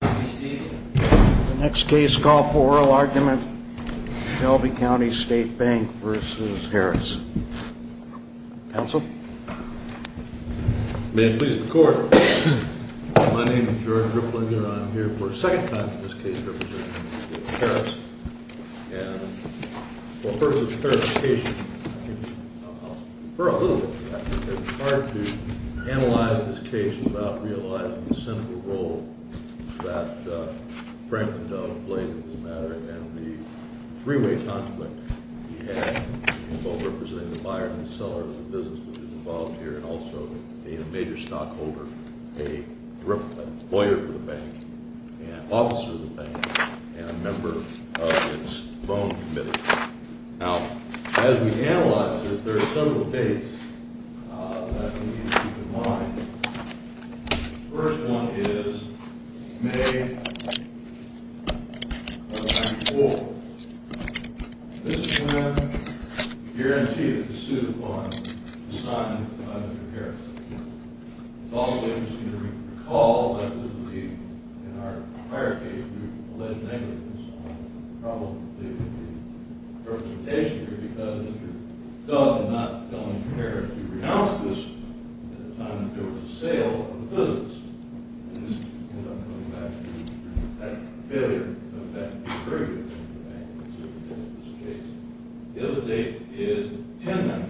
The next case, call for oral argument, Shelby County State Bank v. Harris. Counsel? May it please the court, my name is George Ripley and I'm here for a second time for this case representing the state of Harris. And for the purposes of clarification, I'll defer a little bit to that. It's hard to analyze this case without realizing the central role that Franklin Dove played in this matter and the three-way conflict he had both representing the buyer and seller of the business which is involved here and also being a major stockholder, a lawyer for the bank, an officer of the bank, and a member of its loan committee. Now, as we analyze this, there are several dates that we need to keep in mind. The first one is May of 1994. This is when the guarantee that the suit was signed by Mr. Harris. It's always interesting to recall that this would be, in our prior case, the alleged negligence on the problem of the representation here because Mr. Dove did not tell Mr. Harris to renounce this at a time when there was a sale of the business. And this ends up going back to that failure of that agreement with the bank in this particular case. The other date is 10-94.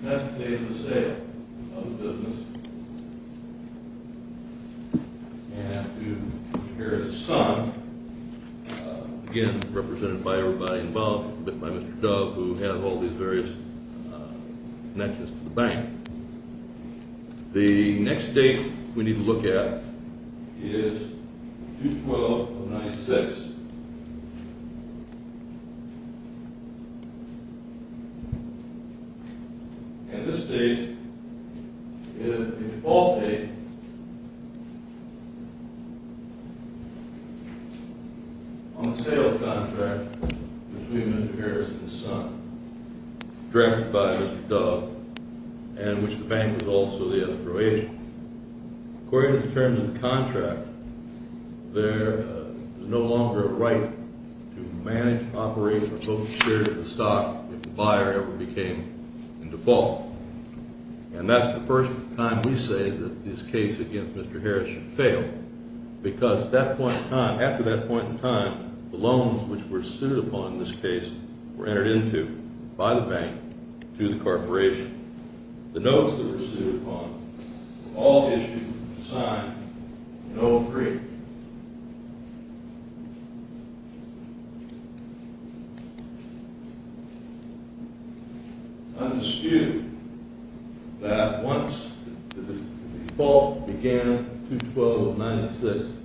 That's the date of the sale of the business. And here is the sum, again, represented by everybody involved with Mr. Dove who has all these various connections to the bank. The next date we need to look at is June 12, 1996. And this date is the default date on the sale of the contract between Mr. Harris and his son, directed by Mr. Dove, and which the bank was also the operator. According to the terms of the contract, there is no longer a right to manage, operate, or hold shares of the stock if the buyer ever became in default. And that's the first time we say that this case against Mr. Harris should fail because at that point in time, after that point in time, the loans which were sued upon in this case were entered into by the bank through the corporation. The notes that were sued upon were all issued with the sign, NO AGREEMENT. Undisputed that once the default began, June 12, 1996,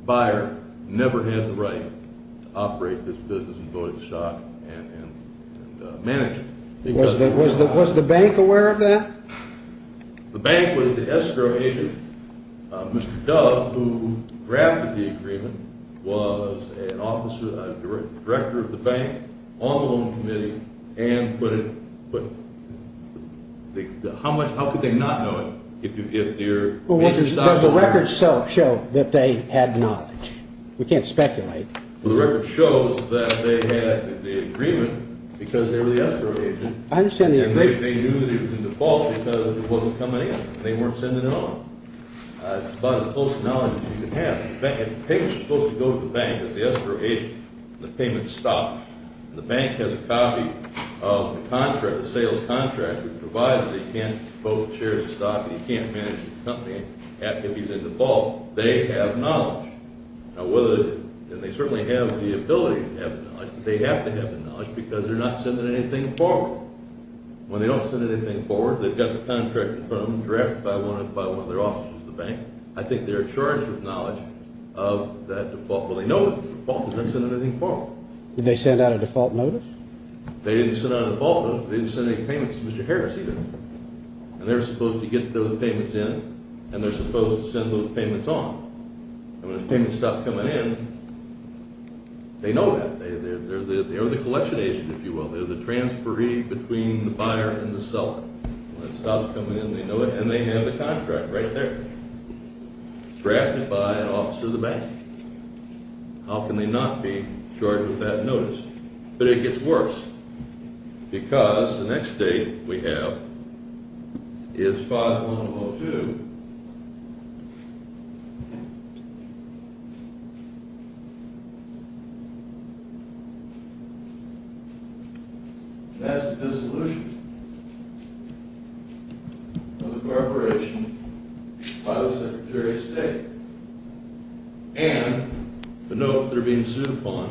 the buyer never had the right to operate this business and hold the stock and manage it. Was the bank aware of that? The bank was the escrow agent. Mr. Dove, who drafted the agreement, was an officer, a director of the bank, on the loan committee, and put it, how could they not know it? Does the record show that they had knowledge? We can't speculate. The record shows that they had the agreement because they were the escrow agent. I understand the agreement. And they knew that it was in default because it wasn't coming in. They weren't sending it on. It's about as close to knowledge as you can have. If the payments were supposed to go to the bank as the escrow agent and the payments stopped, and the bank has a copy of the sales contract that provides that you can't hold shares of stock and you can't manage the company if he's in default, they have knowledge. And they certainly have the ability to have the knowledge, but they have to have the knowledge because they're not sending anything forward. When they don't send anything forward, they've got the contract that's been drafted by one of their officers at the bank. I think they're in charge of knowledge of that default. Well, they know it's in default, but they're not sending anything forward. Did they send out a default notice? They didn't send out a default notice, but they didn't send any payments to Mr. Harris either. And they're supposed to get those payments in, and they're supposed to send those payments on. And when the payments stop coming in, they know that. They're the collection agent, if you will. They're the transferee between the buyer and the seller. When it stops coming in, they know it, and they have the contract right there, drafted by an officer at the bank. How can they not be charged with that notice? But it gets worse because the next date we have is 5-1-0-2. And that's the dissolution of the corporation by the Secretary of State. And the notes that are being sued upon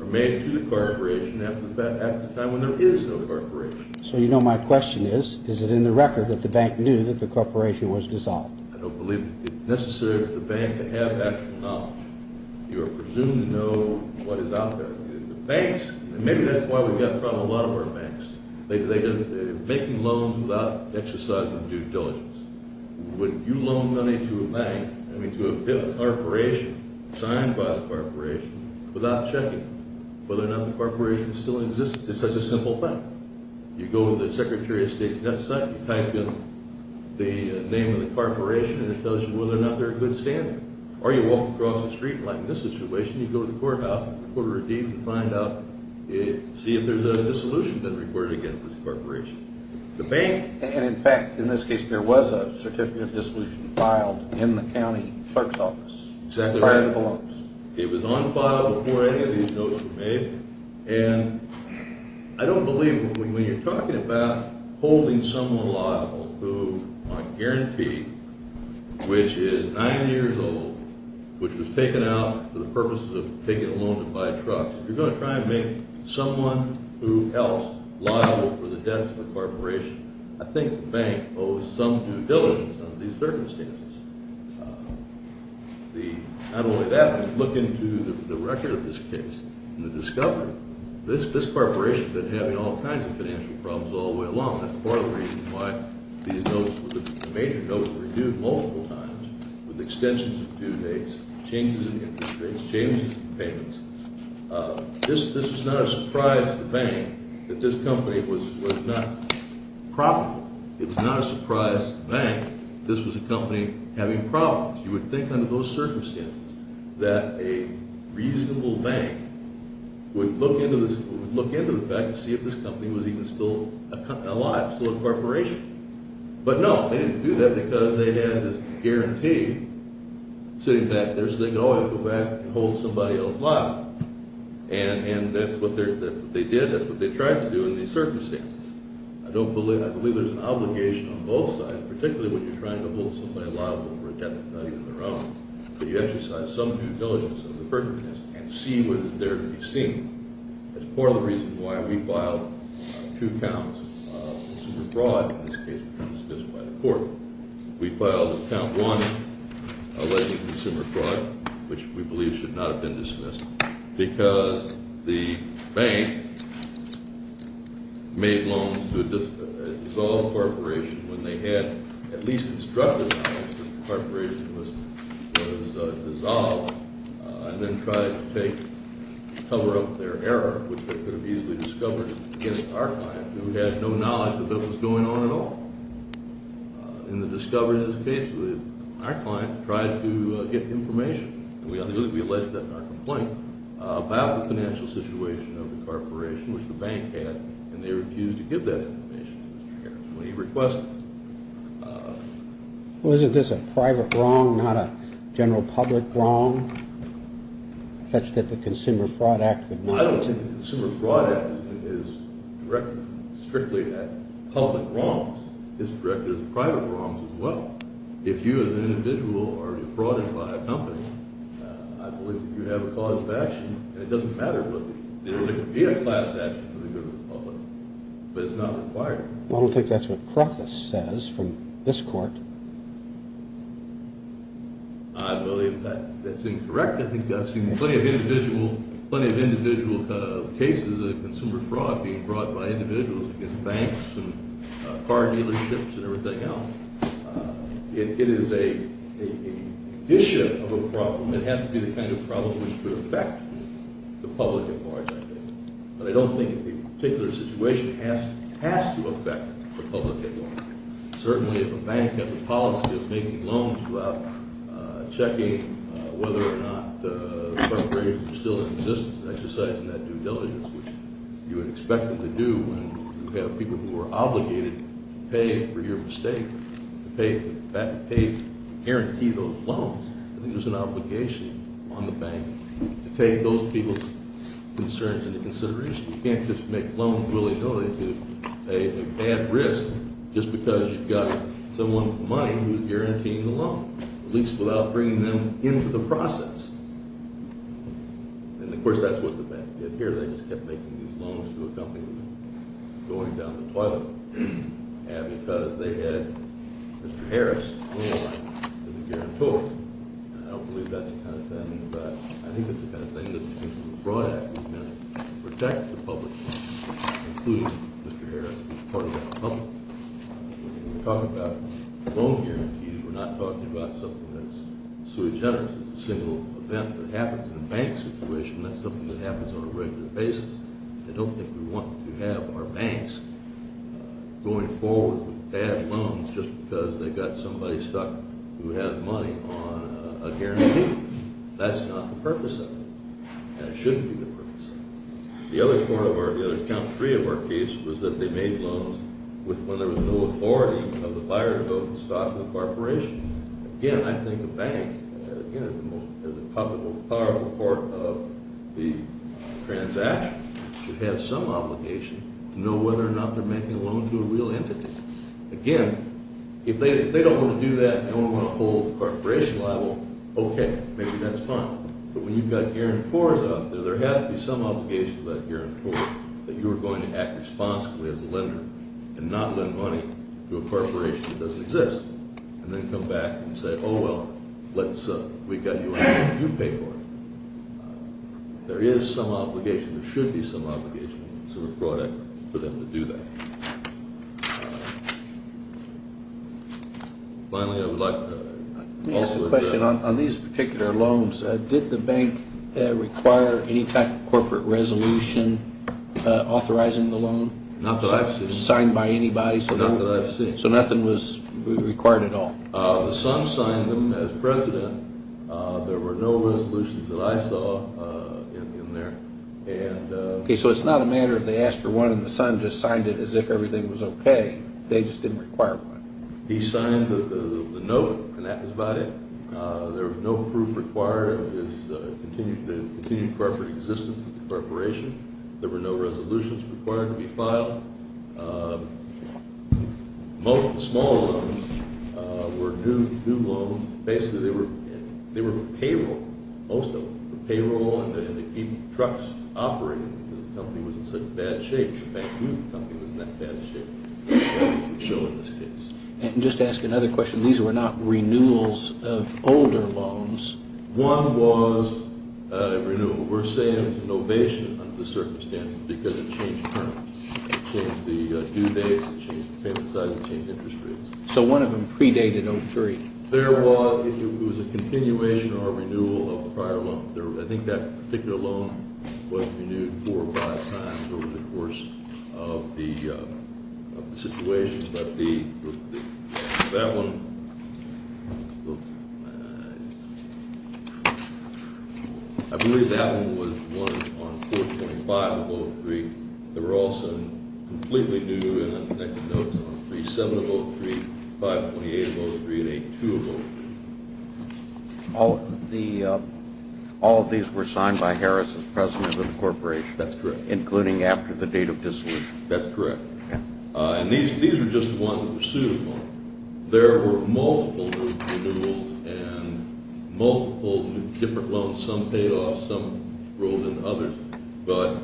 are made to the corporation at the time when there is no corporation. So you know my question is, is it in the record that the bank knew that the corporation was dissolved? I don't believe it's necessary for the bank to have actual knowledge. You presumably know what is out there. The banks, and maybe that's why we've got in front of a lot of our banks. They're making loans without exercising due diligence. Would you loan money to a bank, I mean to a corporation, signed by the corporation, without checking whether or not the corporation still exists? It's such a simple fact. You go to the Secretary of State's website, you type in the name of the corporation, and it tells you whether or not they're a good standard. Or you walk across the street, like in this situation, you go to the courthouse, the court of redeems, and find out, see if there's a dissolution that's required against this corporation. And in fact, in this case, there was a certificate of dissolution filed in the county clerk's office. Exactly right. Prior to the loans. It was on file before any of these notes were made. And I don't believe when you're talking about holding someone liable who I guarantee, which is nine years old, which was taken out for the purpose of taking a loan to buy a truck. You're going to try and make someone who else liable for the debts of the corporation. I think the bank owes some due diligence on these circumstances. Not only that, but look into the record of this case, and you'll discover this corporation has been having all kinds of financial problems all the way along. That's part of the reason why the major notes were renewed multiple times with extensions of due dates, changes in interest rates, changes in payments. This was not a surprise to the bank that this company was not profitable. It was not a surprise to the bank that this was a company having problems. You would think under those circumstances that a reasonable bank would look into the fact to see if this company was even still alive, still a corporation. But no, they didn't do that because they had this guarantee sitting back there so they could always go back and hold somebody else liable. And that's what they did, that's what they tried to do in these circumstances. I don't believe – I believe there's an obligation on both sides, particularly when you're trying to hold somebody liable for a debt that's not even their own, that you exercise some due diligence under the burden of this and see what is there to be seen. That's part of the reason why we filed two counts of consumer fraud in this case which were dismissed by the court. We filed count one, alleged consumer fraud, which we believe should not have been dismissed, because the bank made loans to a dissolved corporation when they had at least instructed that the corporation was dissolved and then tried to take – cover up their error, which they could have easily discovered in an archive, who had no knowledge of what was going on at all. In the discovery in this case, our client tried to get information, and we alleged that in our complaint, about the financial situation of the corporation, which the bank had, and they refused to give that information to Mr. Harris when he requested it. Well, isn't this a private wrong, not a general public wrong, such that the Consumer Fraud Act would not – Well, I don't think the Consumer Fraud Act is directed strictly at public wrongs. It's directed at private wrongs as well. If you as an individual are being frauded by a company, I believe that you have a cause of action, and it doesn't matter whether it be a class action for the good of the public, but it's not required. I don't think that's what Crothis says from this court. I believe that's incorrect. I think I've seen plenty of individual cases of consumer fraud being brought by individuals against banks and car dealerships and everything else. It is an issue of a problem. It has to be the kind of problem which could affect the public at large, I think. But I don't think a particular situation has to affect the public at large. Certainly, if a bank has a policy of making loans without checking whether or not the perpetrators are still in existence and exercising that due diligence, which you would expect them to do when you have people who are obligated to pay for your mistake, to pay to guarantee those loans, I think there's an obligation on the bank to take those people's concerns into consideration. You can't just make loans willy-nilly to a bad risk just because you've got someone with money who's guaranteeing the loan, at least without bringing them into the process. And, of course, that's what the bank did here. They just kept making these loans to a company that was going down the toilet. And because they had Mr. Harris as a guarantor, I don't believe that's the kind of thing, but I think that's the kind of thing that the people who brought that were going to protect the public, including Mr. Harris, was part of that public. When we talk about loan guarantees, we're not talking about something that's sui generis. It's a single event that happens in a bank situation. That's something that happens on a regular basis. I don't think we want to have our banks going forward with bad loans just because they've got somebody stuck who has money on a guarantee. That's not the purpose of it. And it shouldn't be the purpose of it. The other part of our, the count three of our case was that they made loans when there was no authority of the buyer to go to the stock of the corporation. Again, I think the bank, again, is the most powerful part of the transaction, should have some obligation to know whether or not they're making a loan to a real entity. Again, if they don't want to do that and they don't want to hold the corporation liable, okay, maybe that's fine. But when you've got guarantors out there, there has to be some obligation to that guarantor that you are going to act responsibly as a lender and not lend money to a corporation that doesn't exist and then come back and say, oh, well, let's, we got you out here, you pay for it. There is some obligation, there should be some obligation to the product for them to do that. Finally, I would like to ask a question. On these particular loans, did the bank require any type of corporate resolution authorizing the loan? Not that I've seen. Signed by anybody? Not that I've seen. So nothing was required at all? The son signed them as president. There were no resolutions that I saw in there. Okay, so it's not a matter of they asked for one and the son just signed it as if everything was okay. They just didn't require one. He signed the note and that was about it. There was no proof required of his continued corporate existence at the corporation. There were no resolutions required to be filed. Most of the small loans were due loans. Basically, they were for payroll, most of them, for payroll and to keep trucks operating because the company was in such bad shape. In fact, we knew the company was in that bad shape. And just to ask another question, these were not renewals of older loans? One was a renewal. We're saying it was an ovation under the circumstances because it changed terms. It changed the due dates, it changed the payment size, it changed interest rates. So one of them predated 03? There was a continuation or renewal of the prior loan. I think that particular loan was renewed four or five times over the course of the situation. But that one, I believe that one was one on 425 of 03. They were also completely new, and the next note is on 3703, 528 of 03, and 8203. All of these were signed by Harris as president of the corporation? That's correct. Including after the date of dissolution? That's correct. And these are just the ones that were sued upon. There were multiple renewals and multiple different loans. Some paid off, some rolled into others. But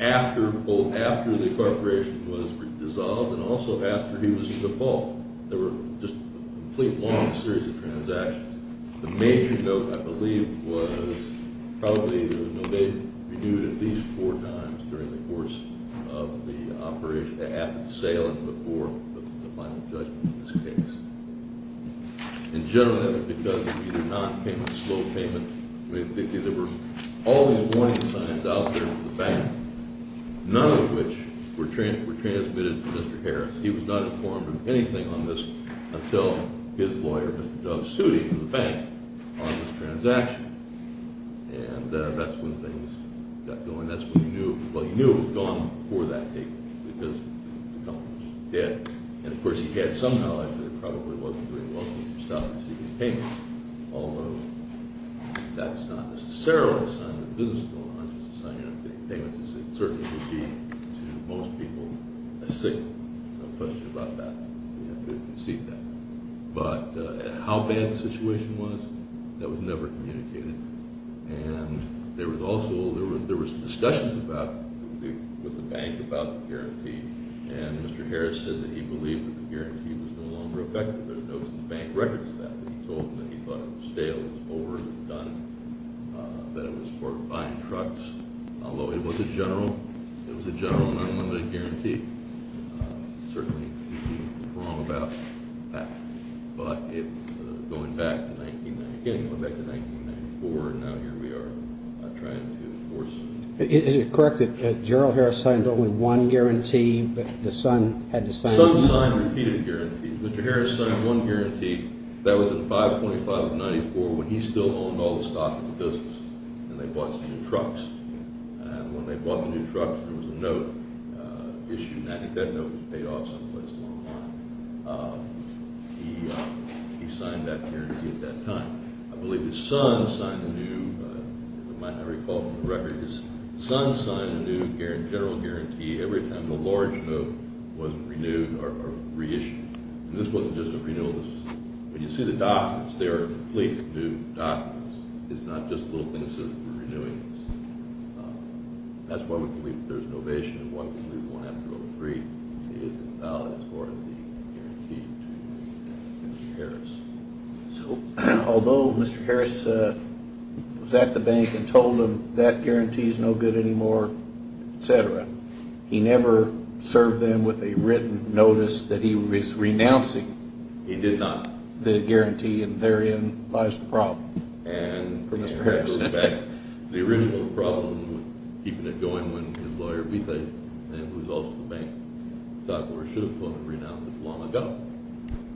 after the corporation was dissolved and also after he was in default, there were just a complete long series of transactions. The major note, I believe, was probably there was an ovation. Renewed at least four times during the course of the operation, after the sale and before the final judgment in this case. In general, that was because of either non-payment or slow payment. There were all these warning signs out there to the bank, none of which were transmitted to Mr. Harris. He was not informed of anything on this until his lawyer, Mr. Dove, sued him to the bank on this transaction. And that's when things got going. That's when he knew, well, he knew it was gone before that date because the company was dead. And, of course, he had some knowledge that it probably wasn't doing well to stop receiving payments, although that's not necessarily a sign that business is going on. It's a sign you're not getting payments. It certainly would be, to most people, a signal. There's no question about that. You have to concede that. But how bad the situation was, that was never communicated. And there was also discussions with the bank about the guarantee. And Mr. Harris said that he believed that the guarantee was no longer effective. There's no bank records of that. He told them that he thought it was stale, it was over, it was done, that it was for buying trucks, although it was a general and unlimited guarantee. Certainly he could be wrong about that. But it's going back to 1994, and now here we are trying to enforce it. Is it correct that Gerald Harris signed only one guarantee, but the son had to sign it? Mr. Harris signed one guarantee that was in 525 of 94 when he still owned all the stock of the business, and they bought some new trucks. And when they bought the new trucks, there was a note issued, and I think that note was paid off someplace along the line. He signed that guarantee at that time. I believe his son signed a new, if I recall from the record, his son signed a new general guarantee every time the large note wasn't renewed or reissued. And this wasn't just a renewal. When you see the documents, they are complete new documents. It's not just little things that are renewings. That's why we believe that there's an ovation, and why we believe one after all three is valid as far as the guarantee to Mr. Harris. So although Mr. Harris was at the bank and told them that guarantee is no good anymore, et cetera, he never served them with a written notice that he was renouncing the guarantee and therein lies the problem for Mr. Harris. The original problem was keeping it going when his lawyer betrayed him, and it was also the bank. The stockbroker should have told him to renounce it long ago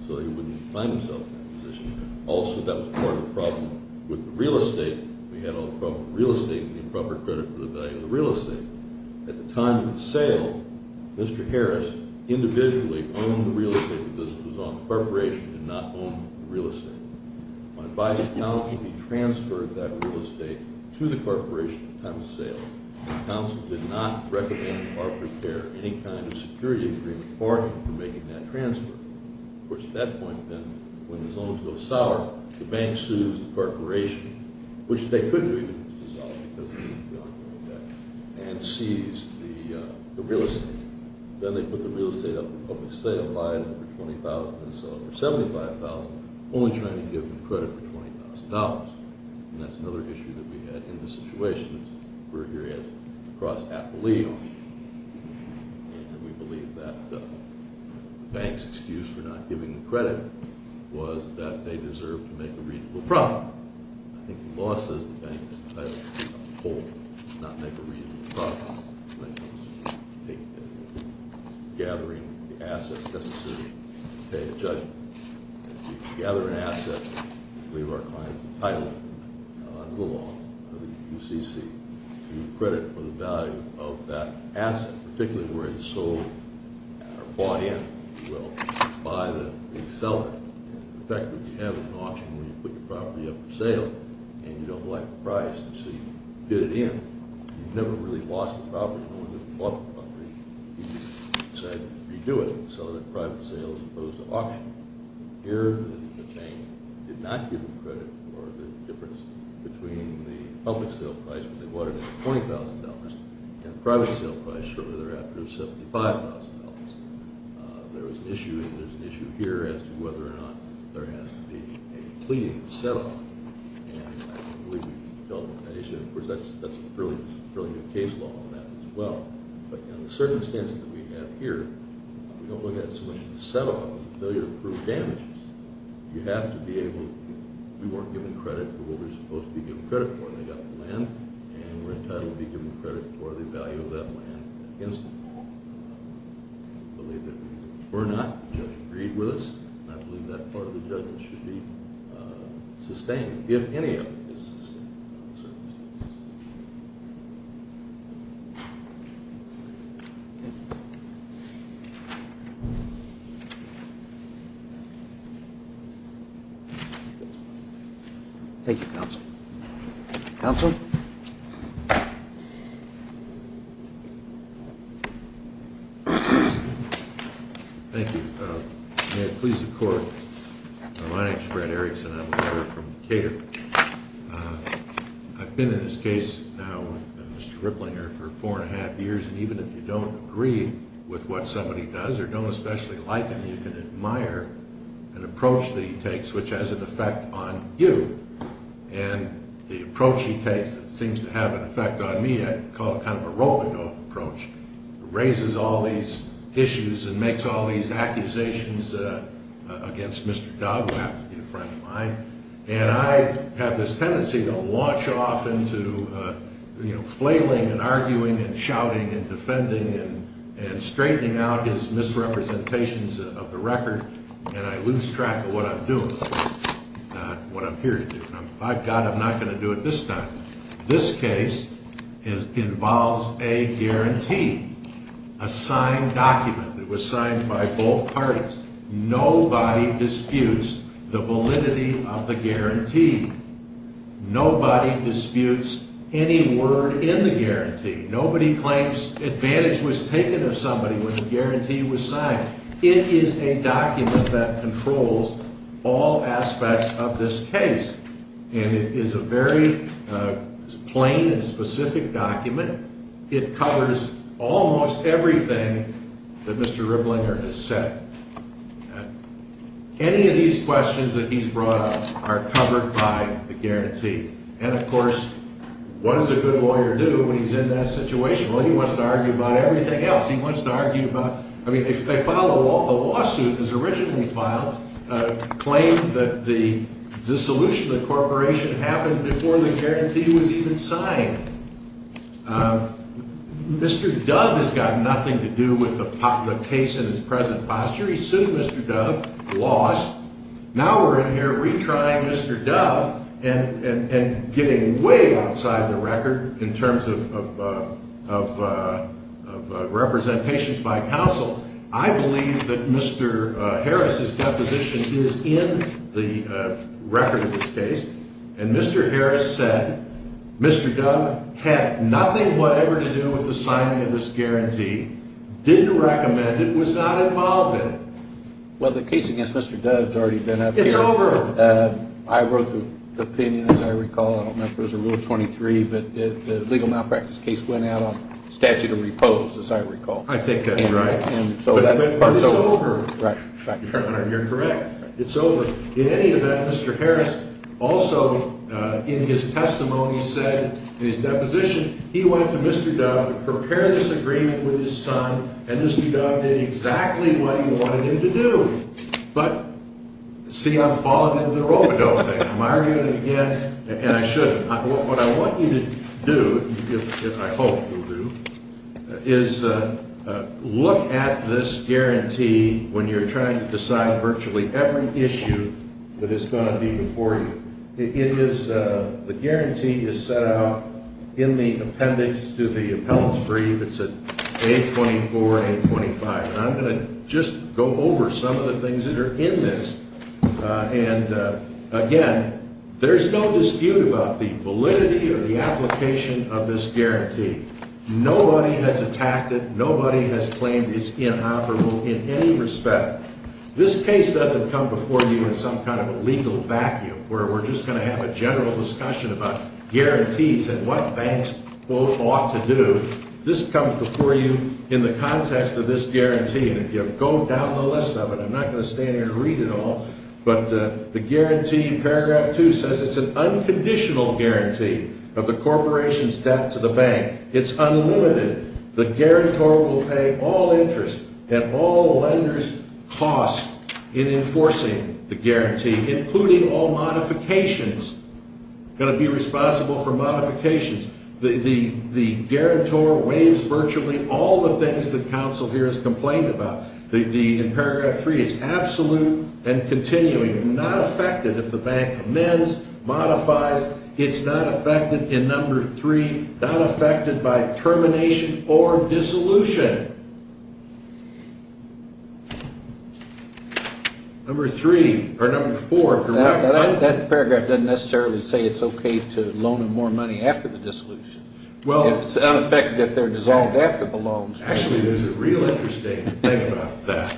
so he wouldn't find himself in that position. Also, that was part of the problem with the real estate. We had all the problems with real estate and the improper credit for the value of the real estate. At the time of the sale, Mr. Harris individually owned the real estate because it was on the corporation and not owned the real estate. On advice of counsel, he transferred that real estate to the corporation at the time of the sale. Counsel did not recommend or prepare any kind of security agreement for him for making that transfer. Of course, at that point, then, when the loans go sour, the bank sues the corporation, which they couldn't resolve because it would be on the real estate, and seized the real estate. Then they put the real estate up for public sale, buying it for $20,000 and selling it for $75,000, only trying to give them credit for $20,000. And that's another issue that we had in this situation that we're here at across Appalachia. And we believe that the bank's excuse for not giving them credit was that they deserved to make a reasonable profit. I think the law says the bank is entitled to take up the whole, not make a reasonable profit, when it comes to gathering the asset necessary to pay a judgment. If you gather an asset, we believe our client is entitled under the law, under the QCC, to give credit for the value of that asset, particularly where it's sold or bought in, if you will, by the seller. In fact, what you have is an auction where you put your property up for sale and you don't like the price, so you bid it in. You've never really lost a property. No one's ever lost a property. You just said, you do it, and sell it at private sales as opposed to auction. Here, the bank did not give them credit for the difference between the public sale price when they bought it at $20,000 and the private sale price shortly thereafter of $75,000. There was an issue, and there's an issue here as to whether or not there has to be a pleading to settle on. And I believe we've dealt with that issue. Of course, that's a fairly good case law on that as well. But in the circumstances that we have here, we don't look at a solution to settle on. It's a failure to prove damages. You have to be able to, we weren't given credit for what we were supposed to be given credit for, and they got the land, and we're entitled to be given credit for the value of that land against it. I believe that if we're not, the judge agreed with us, and I believe that part of the judgment should be sustained, if any of it is sustained in those circumstances. Thank you, counsel. Counsel? Thank you. May it please the Court. My name's Fred Erikson. I'm a lawyer from Decatur. I've been in this case now with Mr. Ripplinger for four and a half years, and even if you don't agree with what somebody does or don't especially like him, you can admire an approach that he takes which has an effect on you. And the approach he takes that seems to have an effect on me, I call it kind of a roll-and-go approach, raises all these issues and makes all these accusations against Mr. Dogwap, a friend of mine, and I have this tendency to launch off into flailing and arguing and shouting and defending and straightening out his misrepresentations of the record, and I lose track of what I'm doing, what I'm here to do. By God, I'm not going to do it this time. This case involves a guarantee, a signed document. It was signed by both parties. Nobody disputes the validity of the guarantee. Nobody disputes any word in the guarantee. Nobody claims advantage was taken of somebody when the guarantee was signed. It is a document that controls all aspects of this case, and it is a very plain and specific document. It covers almost everything that Mr. Riblinger has said. Any of these questions that he's brought up are covered by the guarantee. And, of course, what does a good lawyer do when he's in that situation? Well, he wants to argue about everything else. He wants to argue about, I mean, if they file a lawsuit as originally filed, claim that the dissolution of the corporation happened before the guarantee was even signed. Mr. Dove has got nothing to do with the case in its present posture. He sued Mr. Dove, lost. Now we're in here retrying Mr. Dove and getting way outside the record in terms of representations by counsel. I believe that Mr. Harris' deposition is in the record of this case, and Mr. Harris said Mr. Dove had nothing whatever to do with the signing of this guarantee, didn't recommend it, was not involved in it. Well, the case against Mr. Dove has already been up here. It's over. I wrote the opinion, as I recall. I don't know if there's a rule 23, but the legal malpractice case went out on statute of repose, as I recall. I think that's right. But it's over. Your Honor, you're correct. It's over. In any event, Mr. Harris also in his testimony said in his deposition he went to Mr. Dove to prepare this agreement with his son, and Mr. Dove did exactly what he wanted him to do. But see, I'm falling into the Robidog thing. Am I arguing it again? And I shouldn't. What I want you to do, and I hope you'll do, is look at this guarantee when you're trying to decide virtually every issue that is going to be before you. The guarantee is set out in the appendix to the appellant's brief. It's at page 24 and page 25. And I'm going to just go over some of the things that are in this. And, again, there's no dispute about the validity or the application of this guarantee. Nobody has attacked it. Nobody has claimed it's inoperable in any respect. This case doesn't come before you in some kind of a legal vacuum where we're just going to have a general discussion about guarantees and what banks, quote, ought to do. This comes before you in the context of this guarantee. And if you go down the list of it, I'm not going to stand here and read it all, but the guarantee in paragraph 2 says it's an unconditional guarantee of the corporation's debt to the bank. It's unlimited. The guarantor will pay all interest and all lenders' costs in enforcing the guarantee, including all modifications. Going to be responsible for modifications. The guarantor waives virtually all the things that counsel here has complained about. In paragraph 3, it's absolute and continuing. Not affected if the bank amends, modifies. It's not affected in number 3. Not affected by termination or dissolution. Number 3, or number 4. That paragraph doesn't necessarily say it's okay to loan them more money after the dissolution. It's unaffected if they're dissolved after the loans. Actually, there's a real interesting thing about that.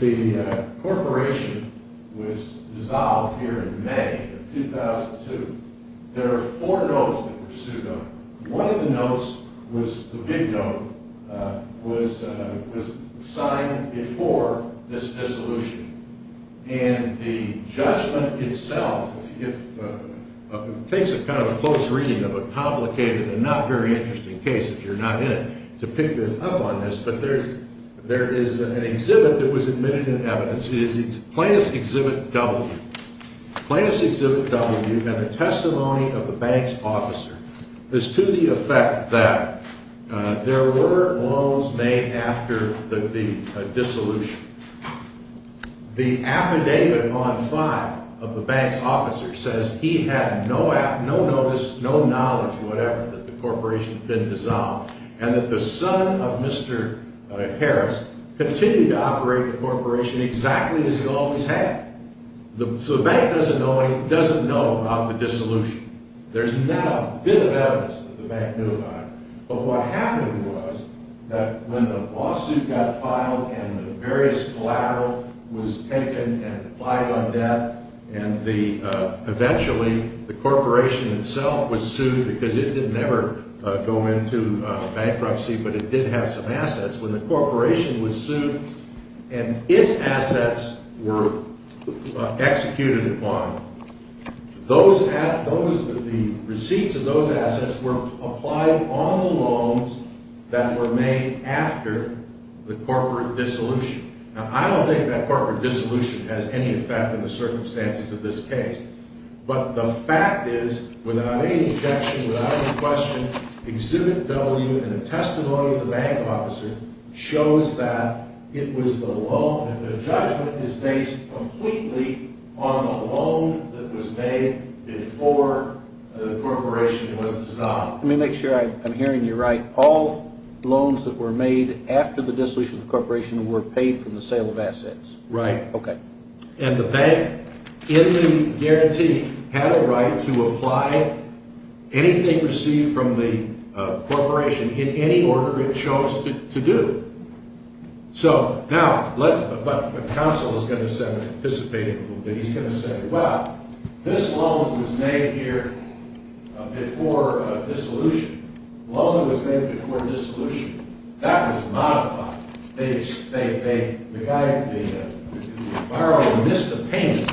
The corporation was dissolved here in May of 2002. There are four notes that were sued on. One of the notes was the big note was signed before this dissolution. And the judgment itself takes a kind of a close reading of a complicated and not very interesting case, if you're not in it, to pick up on this. But there is an exhibit that was admitted in evidence. It's plaintiff's exhibit W. Plaintiff's exhibit W and a testimony of the bank's officer is to the effect that there were loans made after the dissolution. The affidavit on file of the bank's officer says he had no notice, no knowledge, whatever, that the corporation had been dissolved. And that the son of Mr. Harris continued to operate the corporation exactly as he always had. So the bank doesn't know about the dissolution. There's not a bit of evidence that the bank notified. But what happened was that when the lawsuit got filed and the various collateral was taken and applied on debt, and eventually the corporation itself was sued because it didn't ever go into bankruptcy, but it did have some assets. When the corporation was sued and its assets were executed upon, the receipts of those assets were applied on the loans that were made after the corporate dissolution. Now, I don't think that corporate dissolution has any effect on the circumstances of this case. But the fact is, without any objection, without any question, exhibit W and a testimony of the bank officer shows that it was the loan. And the judgment is based completely on the loan that was made before the corporation was dissolved. Let me make sure I'm hearing you right. All loans that were made after the dissolution of the corporation were paid from the sale of assets. Right. Okay. And the bank, in the guarantee, had a right to apply anything received from the corporation in any order it chose to do. So, now, what counsel is going to say, I'm going to anticipate it a little bit. He's going to say, well, this loan was made here before dissolution. The loan that was made before dissolution, that was modified. The guy, the borrower, missed a payment.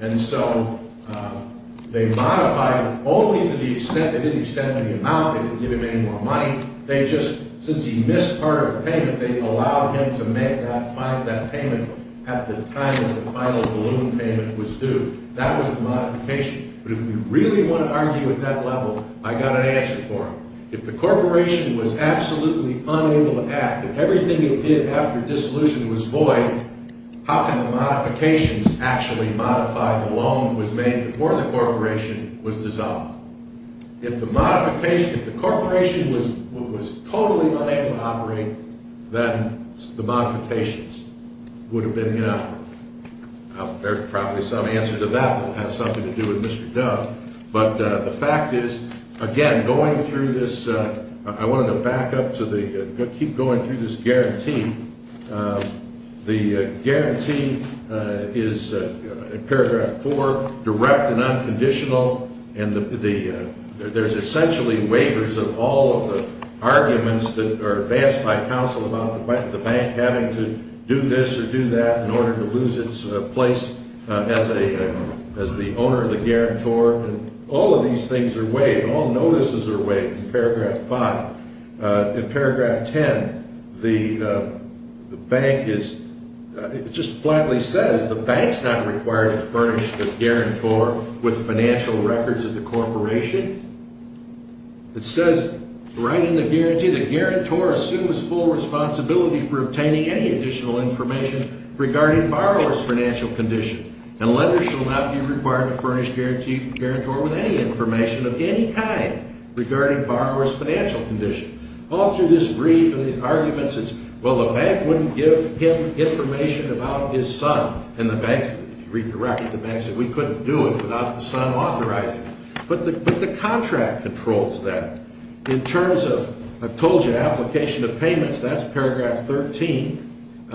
And so they modified it only to the extent, they didn't extend the amount, they didn't give him any more money. They just, since he missed part of the payment, they allowed him to make that payment at the time that the final balloon payment was due. That was the modification. But if we really want to argue at that level, I got an answer for him. If the corporation was absolutely unable to act, if everything it did after dissolution was void, how can the modifications actually modify the loan that was made before the corporation was dissolved? If the modification, if the corporation was totally unable to operate, then the modifications would have been inadequate. There's probably some answer to that that has something to do with Mr. Dove. But the fact is, again, going through this, I wanted to back up to the, keep going through this guarantee. The guarantee is in paragraph four, direct and unconditional, and there's essentially waivers of all of the arguments that are advanced by counsel about the bank having to do this or do that in order to lose its place as the owner of the guarantor. And all of these things are waived. All notices are waived in paragraph five. In paragraph ten, the bank is, it just flatly says the bank's not required to furnish the guarantor with financial records of the corporation. It says right in the guarantee, the guarantor assumes full responsibility for obtaining any additional information regarding borrower's financial condition, and lenders shall not be required to furnish the guarantor with any information of any kind regarding borrower's financial condition. All through this brief and these arguments, it's, well, the bank wouldn't give him information about his son, and the bank, if you read the record, the bank said we couldn't do it without the son authorizing it. But the contract controls that. In terms of, I've told you, application of payments, that's paragraph 13.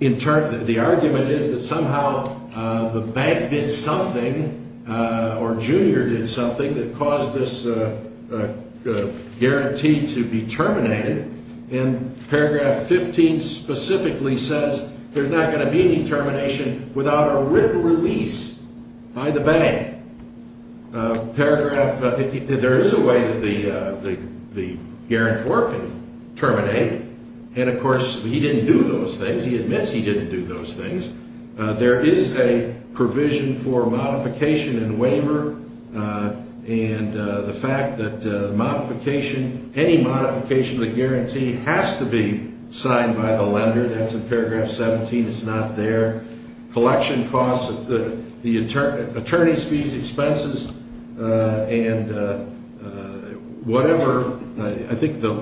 In turn, the argument is that somehow the bank did something or Junior did something that caused this guarantee to be terminated, and paragraph 15 specifically says there's not going to be any termination without a written release by the bank. Paragraph, there is a way that the guarantor can terminate, and of course, he didn't do those things. He admits he didn't do those things. There is a provision for modification and waiver, and the fact that modification, any modification of the guarantee has to be signed by the lender. That's in paragraph 17. It's not there. Collection costs, the attorney's fees, expenses, and whatever. I think the,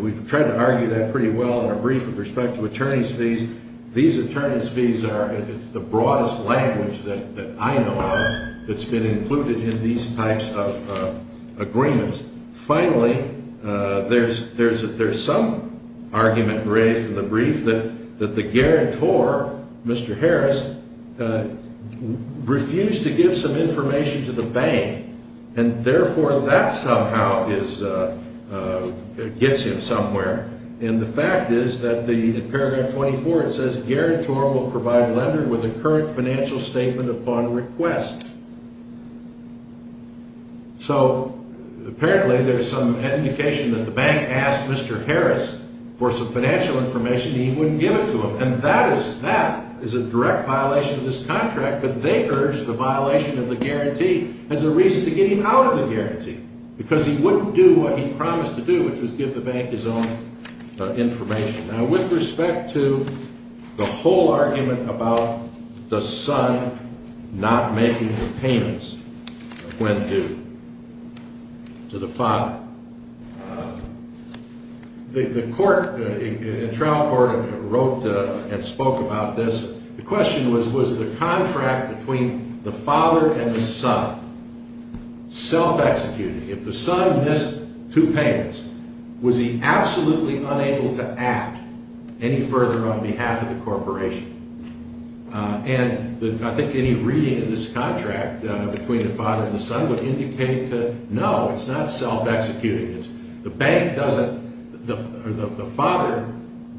we've tried to argue that pretty well in our brief with respect to attorney's fees. These attorney's fees are the broadest language that I know of that's been included in these types of agreements. Finally, there's some argument raised in the brief that the guarantor, Mr. Harris, refused to give some information to the bank, and therefore, that somehow gets him somewhere. And the fact is that in paragraph 24, it says guarantor will provide lender with a current financial statement upon request. So apparently, there's some indication that the bank asked Mr. Harris for some financial information, and he wouldn't give it to him. And that is a direct violation of this contract, but they urged the violation of the guarantee as a reason to get him out of the guarantee, because he wouldn't do what he promised to do, which was give the bank his own information. Now, with respect to the whole argument about the son not making the payments when due to the father, the court, the trial court wrote and spoke about this. The question was, was the contract between the father and the son self-executing? If the son missed two payments, was he absolutely unable to act any further on behalf of the corporation? And I think any reading of this contract between the father and the son would indicate that, no, it's not self-executing. The father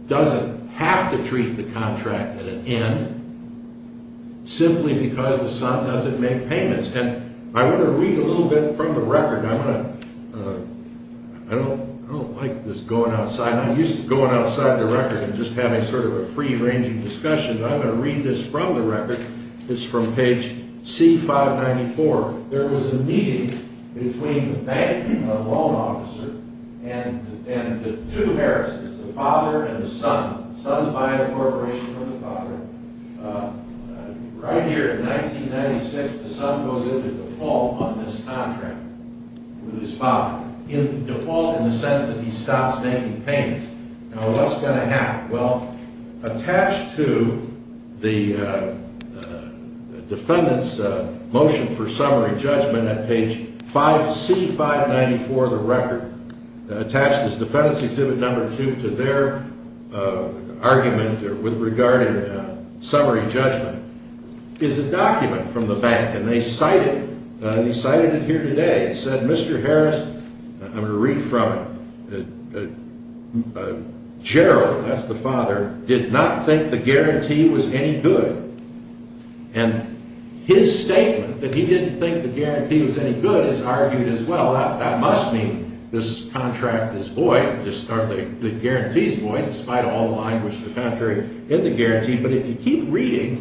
doesn't have to treat the contract at an end simply because the son doesn't make payments. And I want to read a little bit from the record. I don't like this going outside. I'm used to going outside the record and just having sort of a free-ranging discussion. I'm going to read this from the record. It's from page C-594. There was a meeting between the bank loan officer and the two harassers, the father and the son. The son's buying a corporation from the father. Right here in 1996, the son goes into default on this contract with his father. In default in the sense that he stops making payments. Now, what's going to happen? Well, attached to the defendant's motion for summary judgment at page C-594 of the record, attached is Defendant's Exhibit No. 2 to their argument with regard to summary judgment, is a document from the bank. And they cited it here today. It said, Mr. Harris, I'm going to read from it. Gerald, that's the father, did not think the guarantee was any good. And his statement that he didn't think the guarantee was any good is argued as well. That must mean this contract is void, or the guarantee is void, despite all the language, the contrary, in the guarantee. But if you keep reading,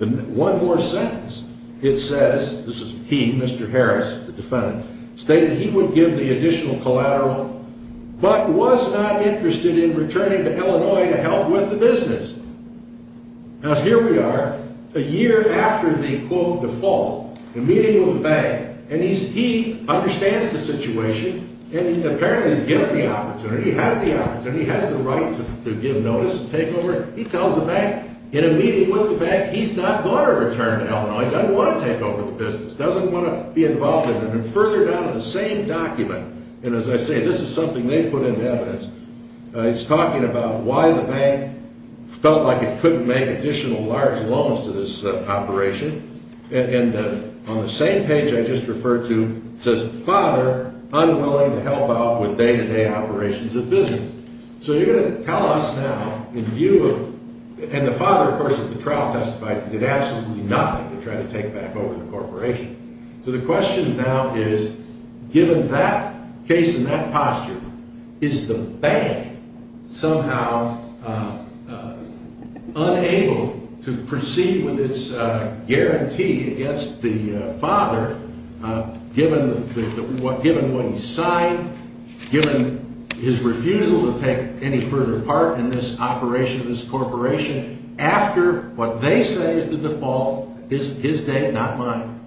one more sentence. It says, this is he, Mr. Harris, the defendant, stated he would give the additional collateral, but was not interested in returning to Illinois to help with the business. Now, here we are, a year after the, quote, default, the meeting with the bank. And he understands the situation, and he apparently is given the opportunity, he has the opportunity, he has the right to give notice and take over. He tells the bank, in a meeting with the bank, he's not going to return to Illinois, he doesn't want to take over the business, doesn't want to be involved in it. And further down in the same document, and as I say, this is something they put in evidence, it's talking about why the bank felt like it couldn't make additional large loans to this operation. And on the same page I just referred to, it says, father, unwilling to help out with day-to-day operations of business. So you're going to tell us now, in view of, and the father, of course, at the trial testified, did absolutely nothing to try to take back over the corporation. So the question now is, given that case and that posture, is the bank somehow unable to proceed with its guarantee against the father, given what he signed, given his refusal to take any further part in this operation, this corporation, after what they say is the default, his dad, not mine,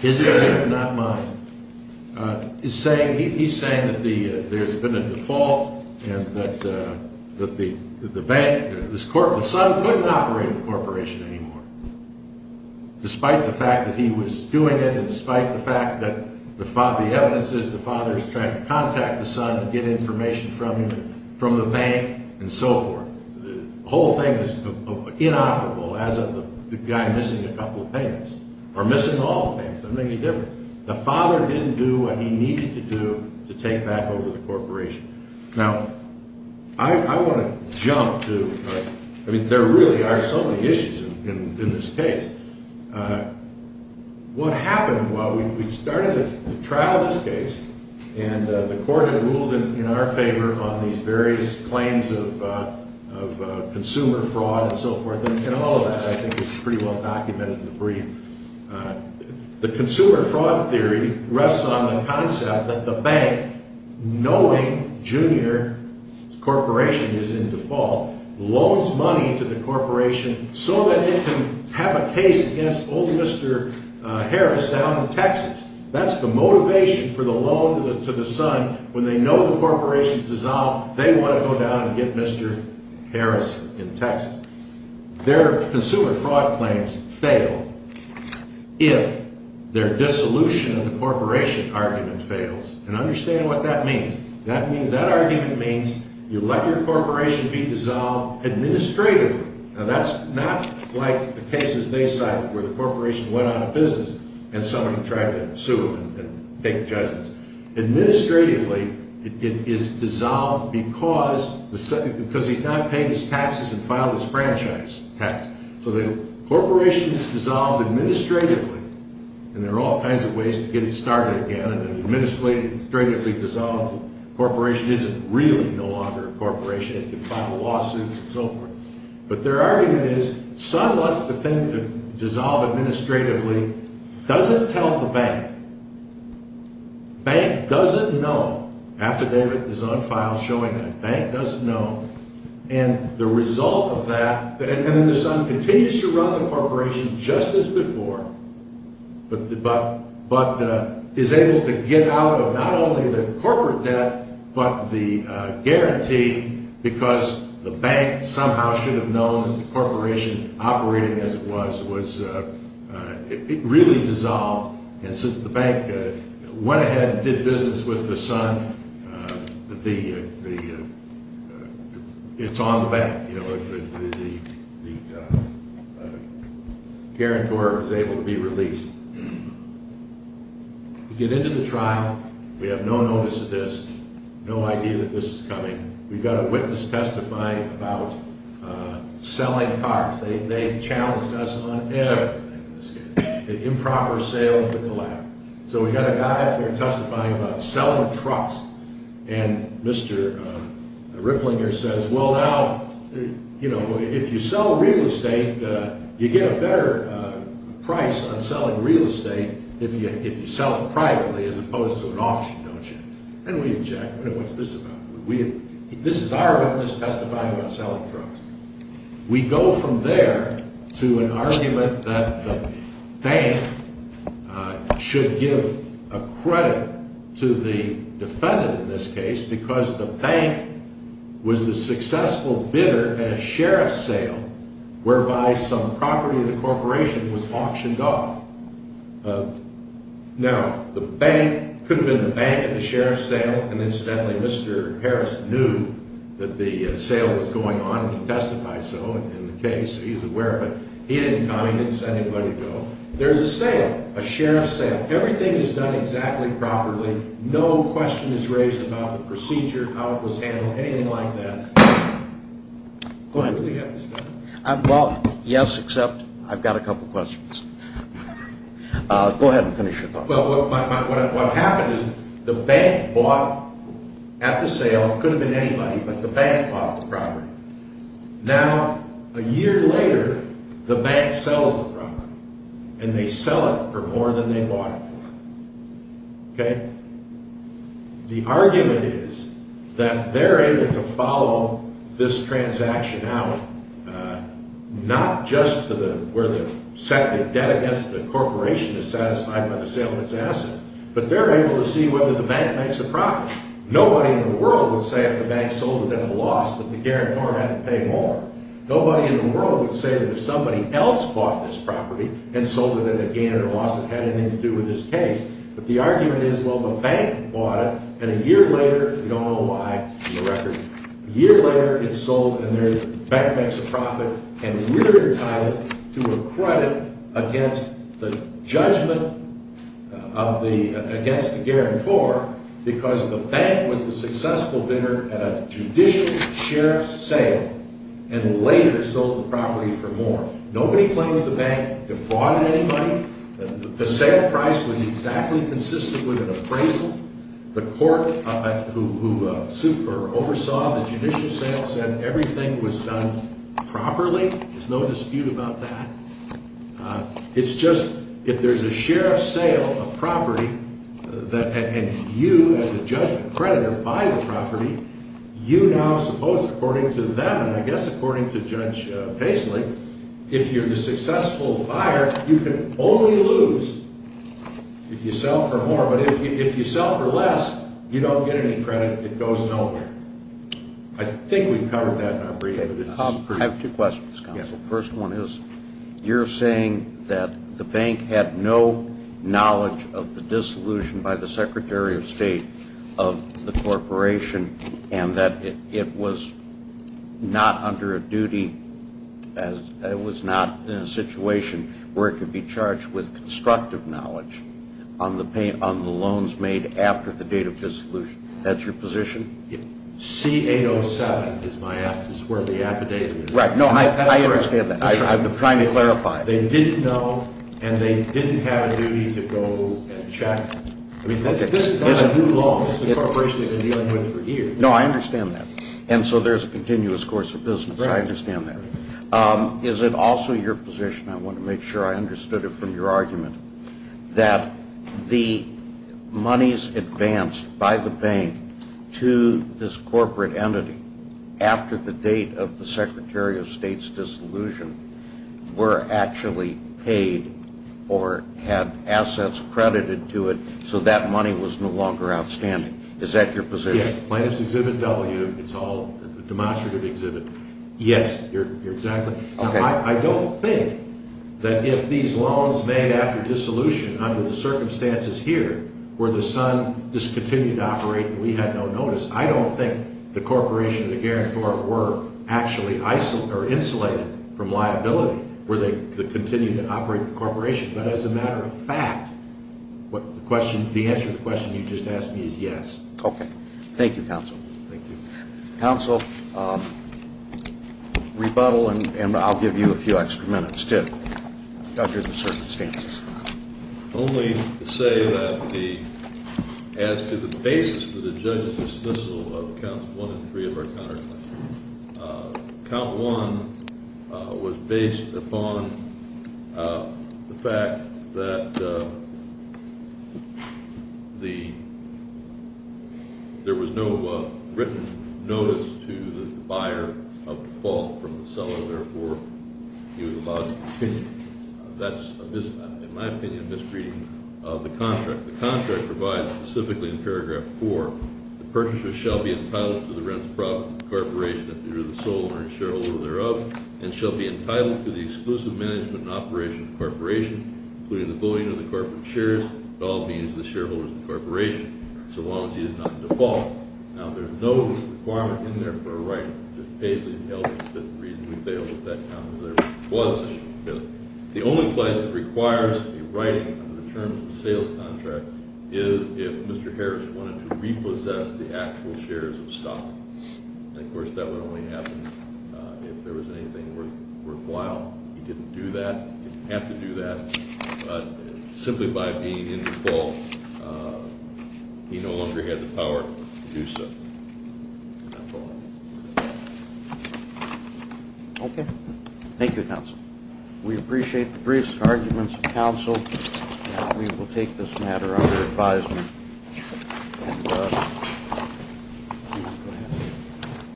his dad, not mine, he's saying that there's been a default and that the son couldn't operate the corporation anymore, despite the fact that he was doing it and despite the fact that the evidence is the father's trying to contact the son to get information from him, from the bank, and so forth. The whole thing is inoperable as of the guy missing a couple of payments, or missing all the payments, doesn't make any difference. The father didn't do what he needed to do to take back over the corporation. Now, I want to jump to, I mean, there really are so many issues in this case. What happened, well, we started the trial in this case, and the court had ruled in our favor on these various claims of consumer fraud and so forth, and all of that, I think, is pretty well documented in the brief. The consumer fraud theory rests on the concept that the bank, knowing Junior Corporation is in default, loans money to the corporation so that it can have a case against old Mr. Harris down in Texas. That's the motivation for the loan to the son. When they know the corporation's dissolved, they want to go down and get Mr. Harris in Texas. Their consumer fraud claims fail if their dissolution of the corporation argument fails. And understand what that means. That argument means you let your corporation be dissolved administratively. Now, that's not like the cases they cite where the corporation went out of business and somebody tried to sue them and take judgment. Administratively, it is dissolved because he's not paid his taxes and filed his franchise tax. So the corporation is dissolved administratively, and there are all kinds of ways to get it started again. Administratively dissolved, the corporation isn't really no longer a corporation. It can file lawsuits and so forth. But their argument is son wants the thing to dissolve administratively, doesn't tell the bank. Bank doesn't know. Affidavit is on file showing that bank doesn't know. And the result of that, and then the son continues to run the corporation just as before, but is able to get out of not only the corporate debt but the guarantee because the bank somehow should have known the corporation operating as it was. It really dissolved. And since the bank went ahead and did business with the son, it's on the bank. The guarantor is able to be released. You get into the trial. We have no notice of this, no idea that this is coming. We've got a witness testifying about selling cars. They challenged us on everything in this case, improper sale and the collapse. So we've got a guy out there testifying about selling trucks, and Mr. Ripplinger says, well, now, you know, if you sell real estate, you get a better price on selling real estate if you sell it privately as opposed to an auction, don't you? And we object. What's this about? This is our witness testifying about selling trucks. We go from there to an argument that the bank should give a credit to the defendant in this case because the bank was the successful bidder at a sheriff's sale whereby some property of the corporation was auctioned off. Now, the bank could have been the bank at the sheriff's sale, and incidentally, Mr. Harris knew that the sale was going on, and he testified so in the case. He's aware of it. He didn't comment. He didn't send anybody to go. There's a sale, a sheriff's sale. Everything is done exactly properly. No question is raised about the procedure, how it was handled, anything like that. Go ahead. Well, yes, except I've got a couple questions. Go ahead and finish your talk. Well, what happened is the bank bought at the sale. It could have been anybody, but the bank bought the property. Now, a year later, the bank sells the property, and they sell it for more than they bought it for. The argument is that they're able to follow this transaction out, not just where the debt against the corporation is satisfied by the sale of its assets, but they're able to see whether the bank makes a profit. Nobody in the world would say if the bank sold it at a loss that the guarantor had to pay more. Nobody in the world would say that if somebody else bought this property and sold it at a gain or a loss that had anything to do with this case. But the argument is, well, the bank bought it, and a year later, we don't know why in the record. A year later, it's sold, and the bank makes a profit, and we're entitled to a credit against the judgment against the guarantor because the bank was the successful bidder at a judicial sheriff's sale and later sold the property for more. Nobody claims the bank defrauded anybody. The sale price was exactly consistent with an appraisal. The court who oversaw the judicial sale said everything was done properly. There's no dispute about that. It's just if there's a sheriff's sale of property and you, as the judgment creditor, buy the property, you now suppose, according to them, and I guess according to Judge Paisley, if you're the successful buyer, you can only lose if you sell for more. But if you sell for less, you don't get any credit. It goes nowhere. I think we've covered that in our brief. I have two questions, Counsel. The first one is you're saying that the bank had no knowledge of the dissolution by the Secretary of State of the Corporation and that it was not under a duty, it was not in a situation where it could be charged with constructive knowledge on the loans made after the date of dissolution. That's your position? C-807 is where the affidavit is. Right. No, I understand that. I'm trying to clarify. This is not a new law. This is a corporation that's been dealing with it for years. No, I understand that. And so there's a continuous course of business. I understand that. Is it also your position, I want to make sure I understood it from your argument, that the monies advanced by the bank to this corporate entity after the date of the Secretary of State's dissolution were actually paid or had assets credited to it so that money was no longer outstanding? Is that your position? Yes. Plaintiff's Exhibit W, it's all a demonstrative exhibit. Yes, exactly. I don't think that if these loans made after dissolution under the circumstances here where the sun just continued to operate and we had no notice, I don't think the corporation and the guarantor were actually insulated from liability were they to continue to operate the corporation. But as a matter of fact, the answer to the question you just asked me is yes. Okay. Thank you, counsel. Thank you. Counsel, rebuttal, and I'll give you a few extra minutes to judge the circumstances. Only to say that as to the basis for the judge's dismissal of counts one and three of our counterclaim, count one was based upon the fact that there was no written notice to the buyer of default from the seller, therefore he was allowed to continue. That's, in my opinion, a misreading of the contract. The contract provides specifically in paragraph four, the purchaser shall be entitled to the rents, profits of the corporation, if it were the sole owner and shareholder thereof, and shall be entitled to the exclusive management and operation of the corporation, including the bullying of the corporate shares, and all fees of the shareholders of the corporation so long as he is not default. Now, there's no requirement in there for a right that basically tells us that the reason we failed with that count was that there was an issue with it. The only place that requires a right under the terms of the sales contract is if Mr. Harris wanted to repossess the actual shares of stock. And, of course, that would only happen if there was anything worthwhile. He didn't do that. He didn't have to do that. Simply by being in default, he no longer had the power to do so. Okay. Thank you, counsel. We appreciate the brief arguments of counsel. We will take this matter under advisement.